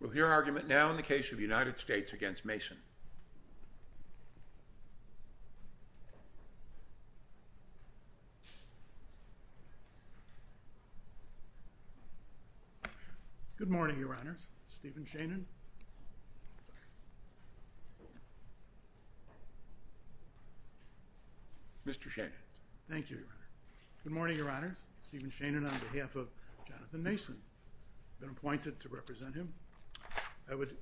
We'll hear argument now in the case of the United States v. Mason. Good morning, Your Honors. Stephen Shannon. Mr. Shannon. Thank you, Your Honor. Good morning, Your Honors. Stephen Shannon on behalf of Jonathan Mason. I've been appointed to represent him. I would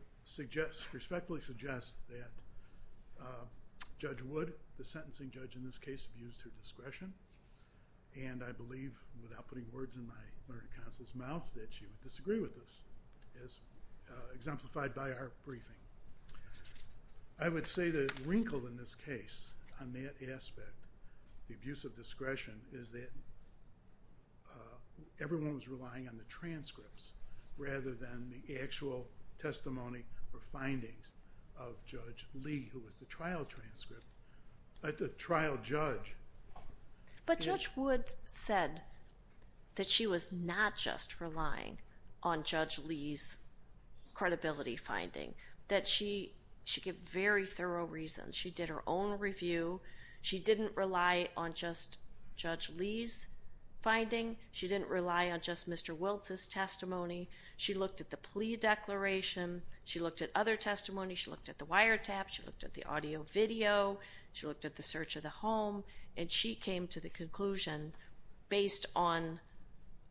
respectfully suggest that Judge Wood, the sentencing judge in this case, abused her discretion. And I believe, without putting words in my learned counsel's mouth, that she would disagree with this, as exemplified by our briefing. I would say the wrinkle in this case on that aspect, the abuse of discretion, is that everyone was relying on the transcripts, rather than the actual testimony or findings of Judge Lee, who was the trial judge. But Judge Wood said that she was not just relying on Judge Lee's credibility finding. That she gave very thorough reasons. She did her own review. She didn't rely on just Judge Lee's finding. She didn't rely on just Mr. Wiltz's testimony. She looked at the plea declaration. She looked at other testimony. She looked at the wiretap. She looked at the audio video. She looked at the search of the home. And she came to the conclusion, based on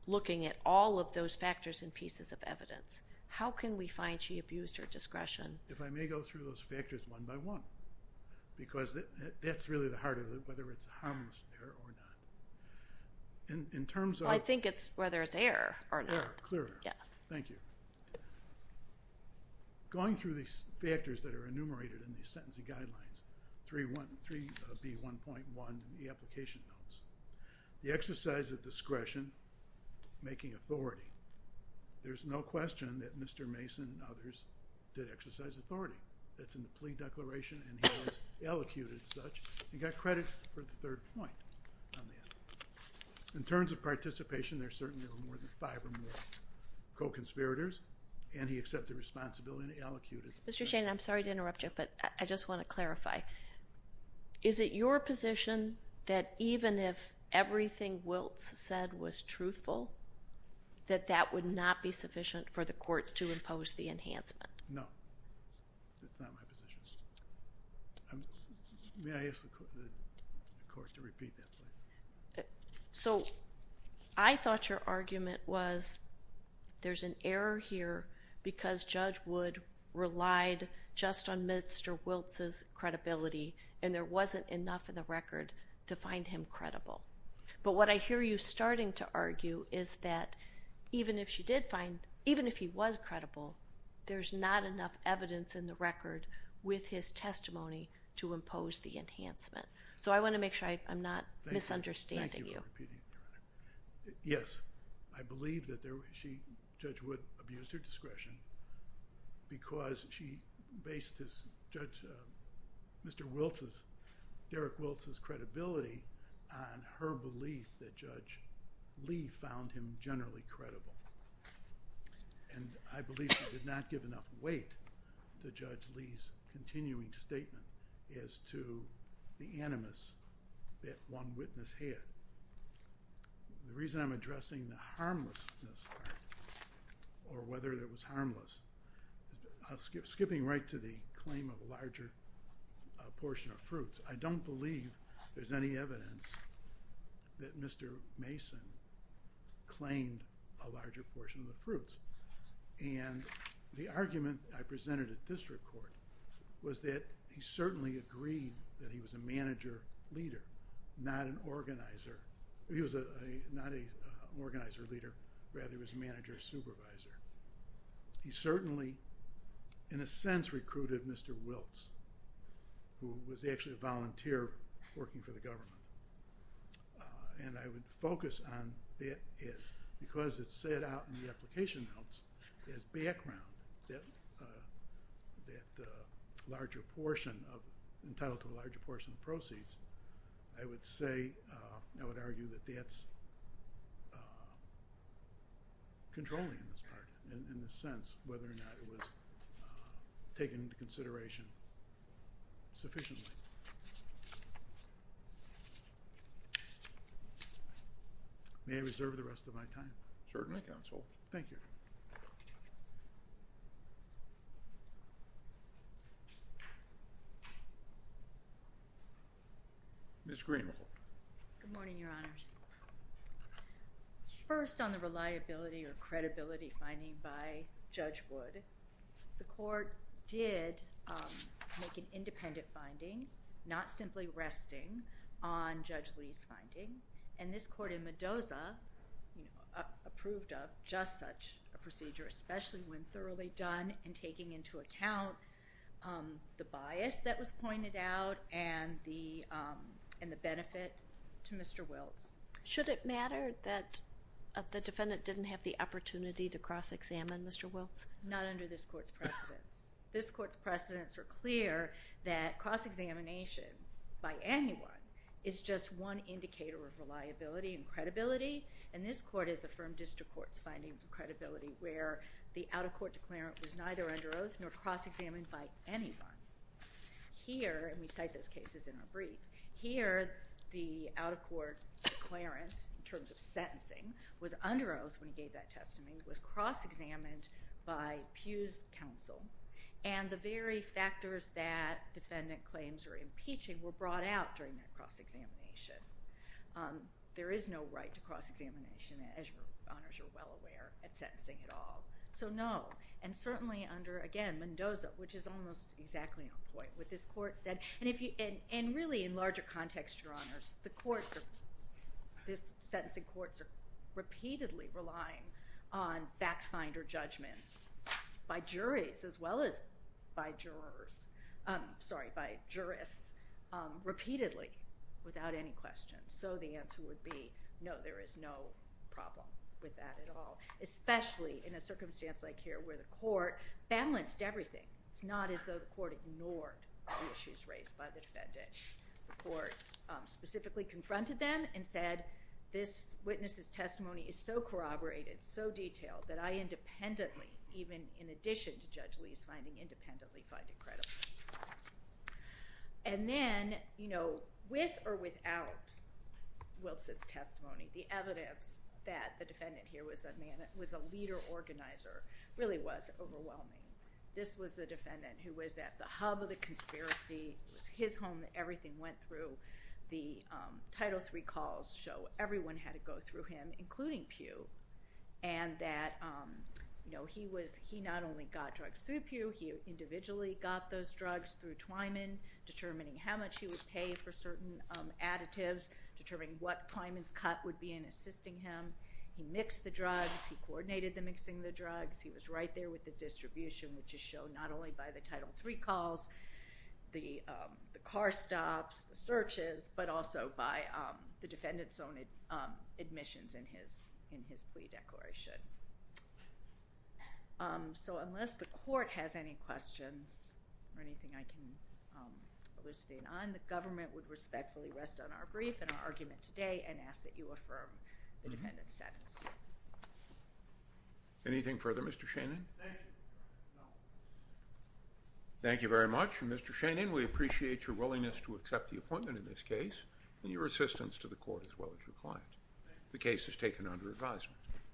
looking at all of those factors and pieces of evidence, how can we find she abused her discretion? If I may go through those factors one by one, because that's really the heart of it, whether it's harmless or not. In terms of... Well, I think it's whether it's error or not. Error, clear error. Yeah. Thank you. Going through these factors that are enumerated in the sentencing guidelines, 3B1.1 in the application notes, the exercise of discretion, making authority. There's no question that Mr. Mason and others did exercise authority. That's in the plea declaration, and he has elocuted such and got credit for the third point on that. In terms of participation, there certainly were more than five or more co-conspirators, and he accepted responsibility and elocuted. Mr. Shannon, I'm sorry to interrupt you, but I just want to clarify. Is it your position that even if everything Wiltz said was truthful, that that would not be sufficient for the court to impose the enhancement? No. That's not my position. May I ask the court to repeat that, please? So I thought your argument was there's an error here because Judge Wood relied just on Mr. Wiltz's credibility, and there wasn't enough in the record to find him credible. But what I hear you starting to argue is that even if she did find, even if he was credible, there's not enough evidence in the record with his testimony to impose the enhancement. So I want to make sure I'm not misunderstanding you. Thank you for repeating, Your Honor. Yes, I believe that Judge Wood abused her discretion because she based his, Judge, Mr. Wiltz's, Derek Wiltz's credibility on her belief that Judge Lee found him generally credible. And I believe she did not give enough weight to Judge Lee's continuing statement as to the animus that one witness had. The reason I'm addressing the harmlessness or whether it was harmless, skipping right to the claim of a larger portion of fruits, I don't believe there's any evidence that Mr. Mason claimed a larger portion of the fruits. And the argument I presented at district court was that he certainly agreed that he was a manager leader, not an organizer, he was not an organizer leader, rather he was a manager supervisor. He certainly, in a sense, recruited Mr. Wiltz, who was actually a volunteer working for the government. And I would focus on that because it's set out in the application notes as background, that larger portion of, entitled to a larger portion of proceeds, I would say, I would argue that that's controlling in this part, in the sense whether or not it was taken into consideration sufficiently. May I reserve the rest of my time? Certainly, counsel. Thank you. Ms. Greenwald. Good morning, Your Honors. First, on the reliability or credibility finding by Judge Wood, the court did make an independent finding, not simply resting on Judge Lee's finding, and this court in Mendoza approved of just such a procedure, especially when thoroughly done and taking into account the bias that was pointed out and the benefit to Mr. Wiltz. Should it matter that the defendant didn't have the opportunity to cross-examine Mr. Wiltz? Not under this court's precedents. This court's precedents are clear that cross-examination by anyone is just one indicator of reliability and credibility, and this court has affirmed district court's findings of credibility where the out-of-court declarant was neither under oath nor cross-examined by anyone. Here, and we cite those cases in our brief, here the out-of-court declarant, in terms of sentencing, was under oath when he gave that testimony, was cross-examined by Pugh's counsel, and the very factors that defendant claims were impeaching were brought out during that cross-examination. There is no right to cross-examination, as Your Honors are well aware, at sentencing at all. So no, and certainly under, again, Mendoza, which is almost exactly on point, what this court said, and really in larger context, Your Honors, the courts are, this sentencing courts are repeatedly relying on fact-finder judgments by juries as well as by jurors, sorry, by jurists, repeatedly without any question. So the answer would be no, there is no problem with that at all, especially in a circumstance like here where the court balanced everything. It's not as though the court ignored the issues raised by the defendant. The court specifically confronted them and said, this witness's testimony is so corroborated, so detailed, that I independently, even in addition to Judge Lee's finding independently, find it credible. And then, you know, with or without Wiltz's testimony, the evidence that the defendant here was a leader organizer really was overwhelming. This was the defendant who was at the hub of the conspiracy. It was his home that everything went through. The Title III calls show everyone had to go through him, including Pew, and that, you know, he not only got drugs through Pew, he individually got those drugs through Twyman, determining how much he would pay for certain additives, determining what Twyman's cut would be in assisting him. He mixed the drugs. He coordinated the mixing of the drugs. He was right there with the distribution, which is shown not only by the Title III calls, the car stops, the searches, but also by the defendant's own admissions in his plea declaration. So unless the court has any questions or anything I can elucidate on, the government would respectfully rest on our brief and our argument today and ask that you affirm the defendant's sentence. Anything further, Mr. Shanin? Thank you. Thank you very much. Mr. Shanin, we appreciate your willingness to accept the appointment in this case and your assistance to the court as well as your client. The case is taken under advisement.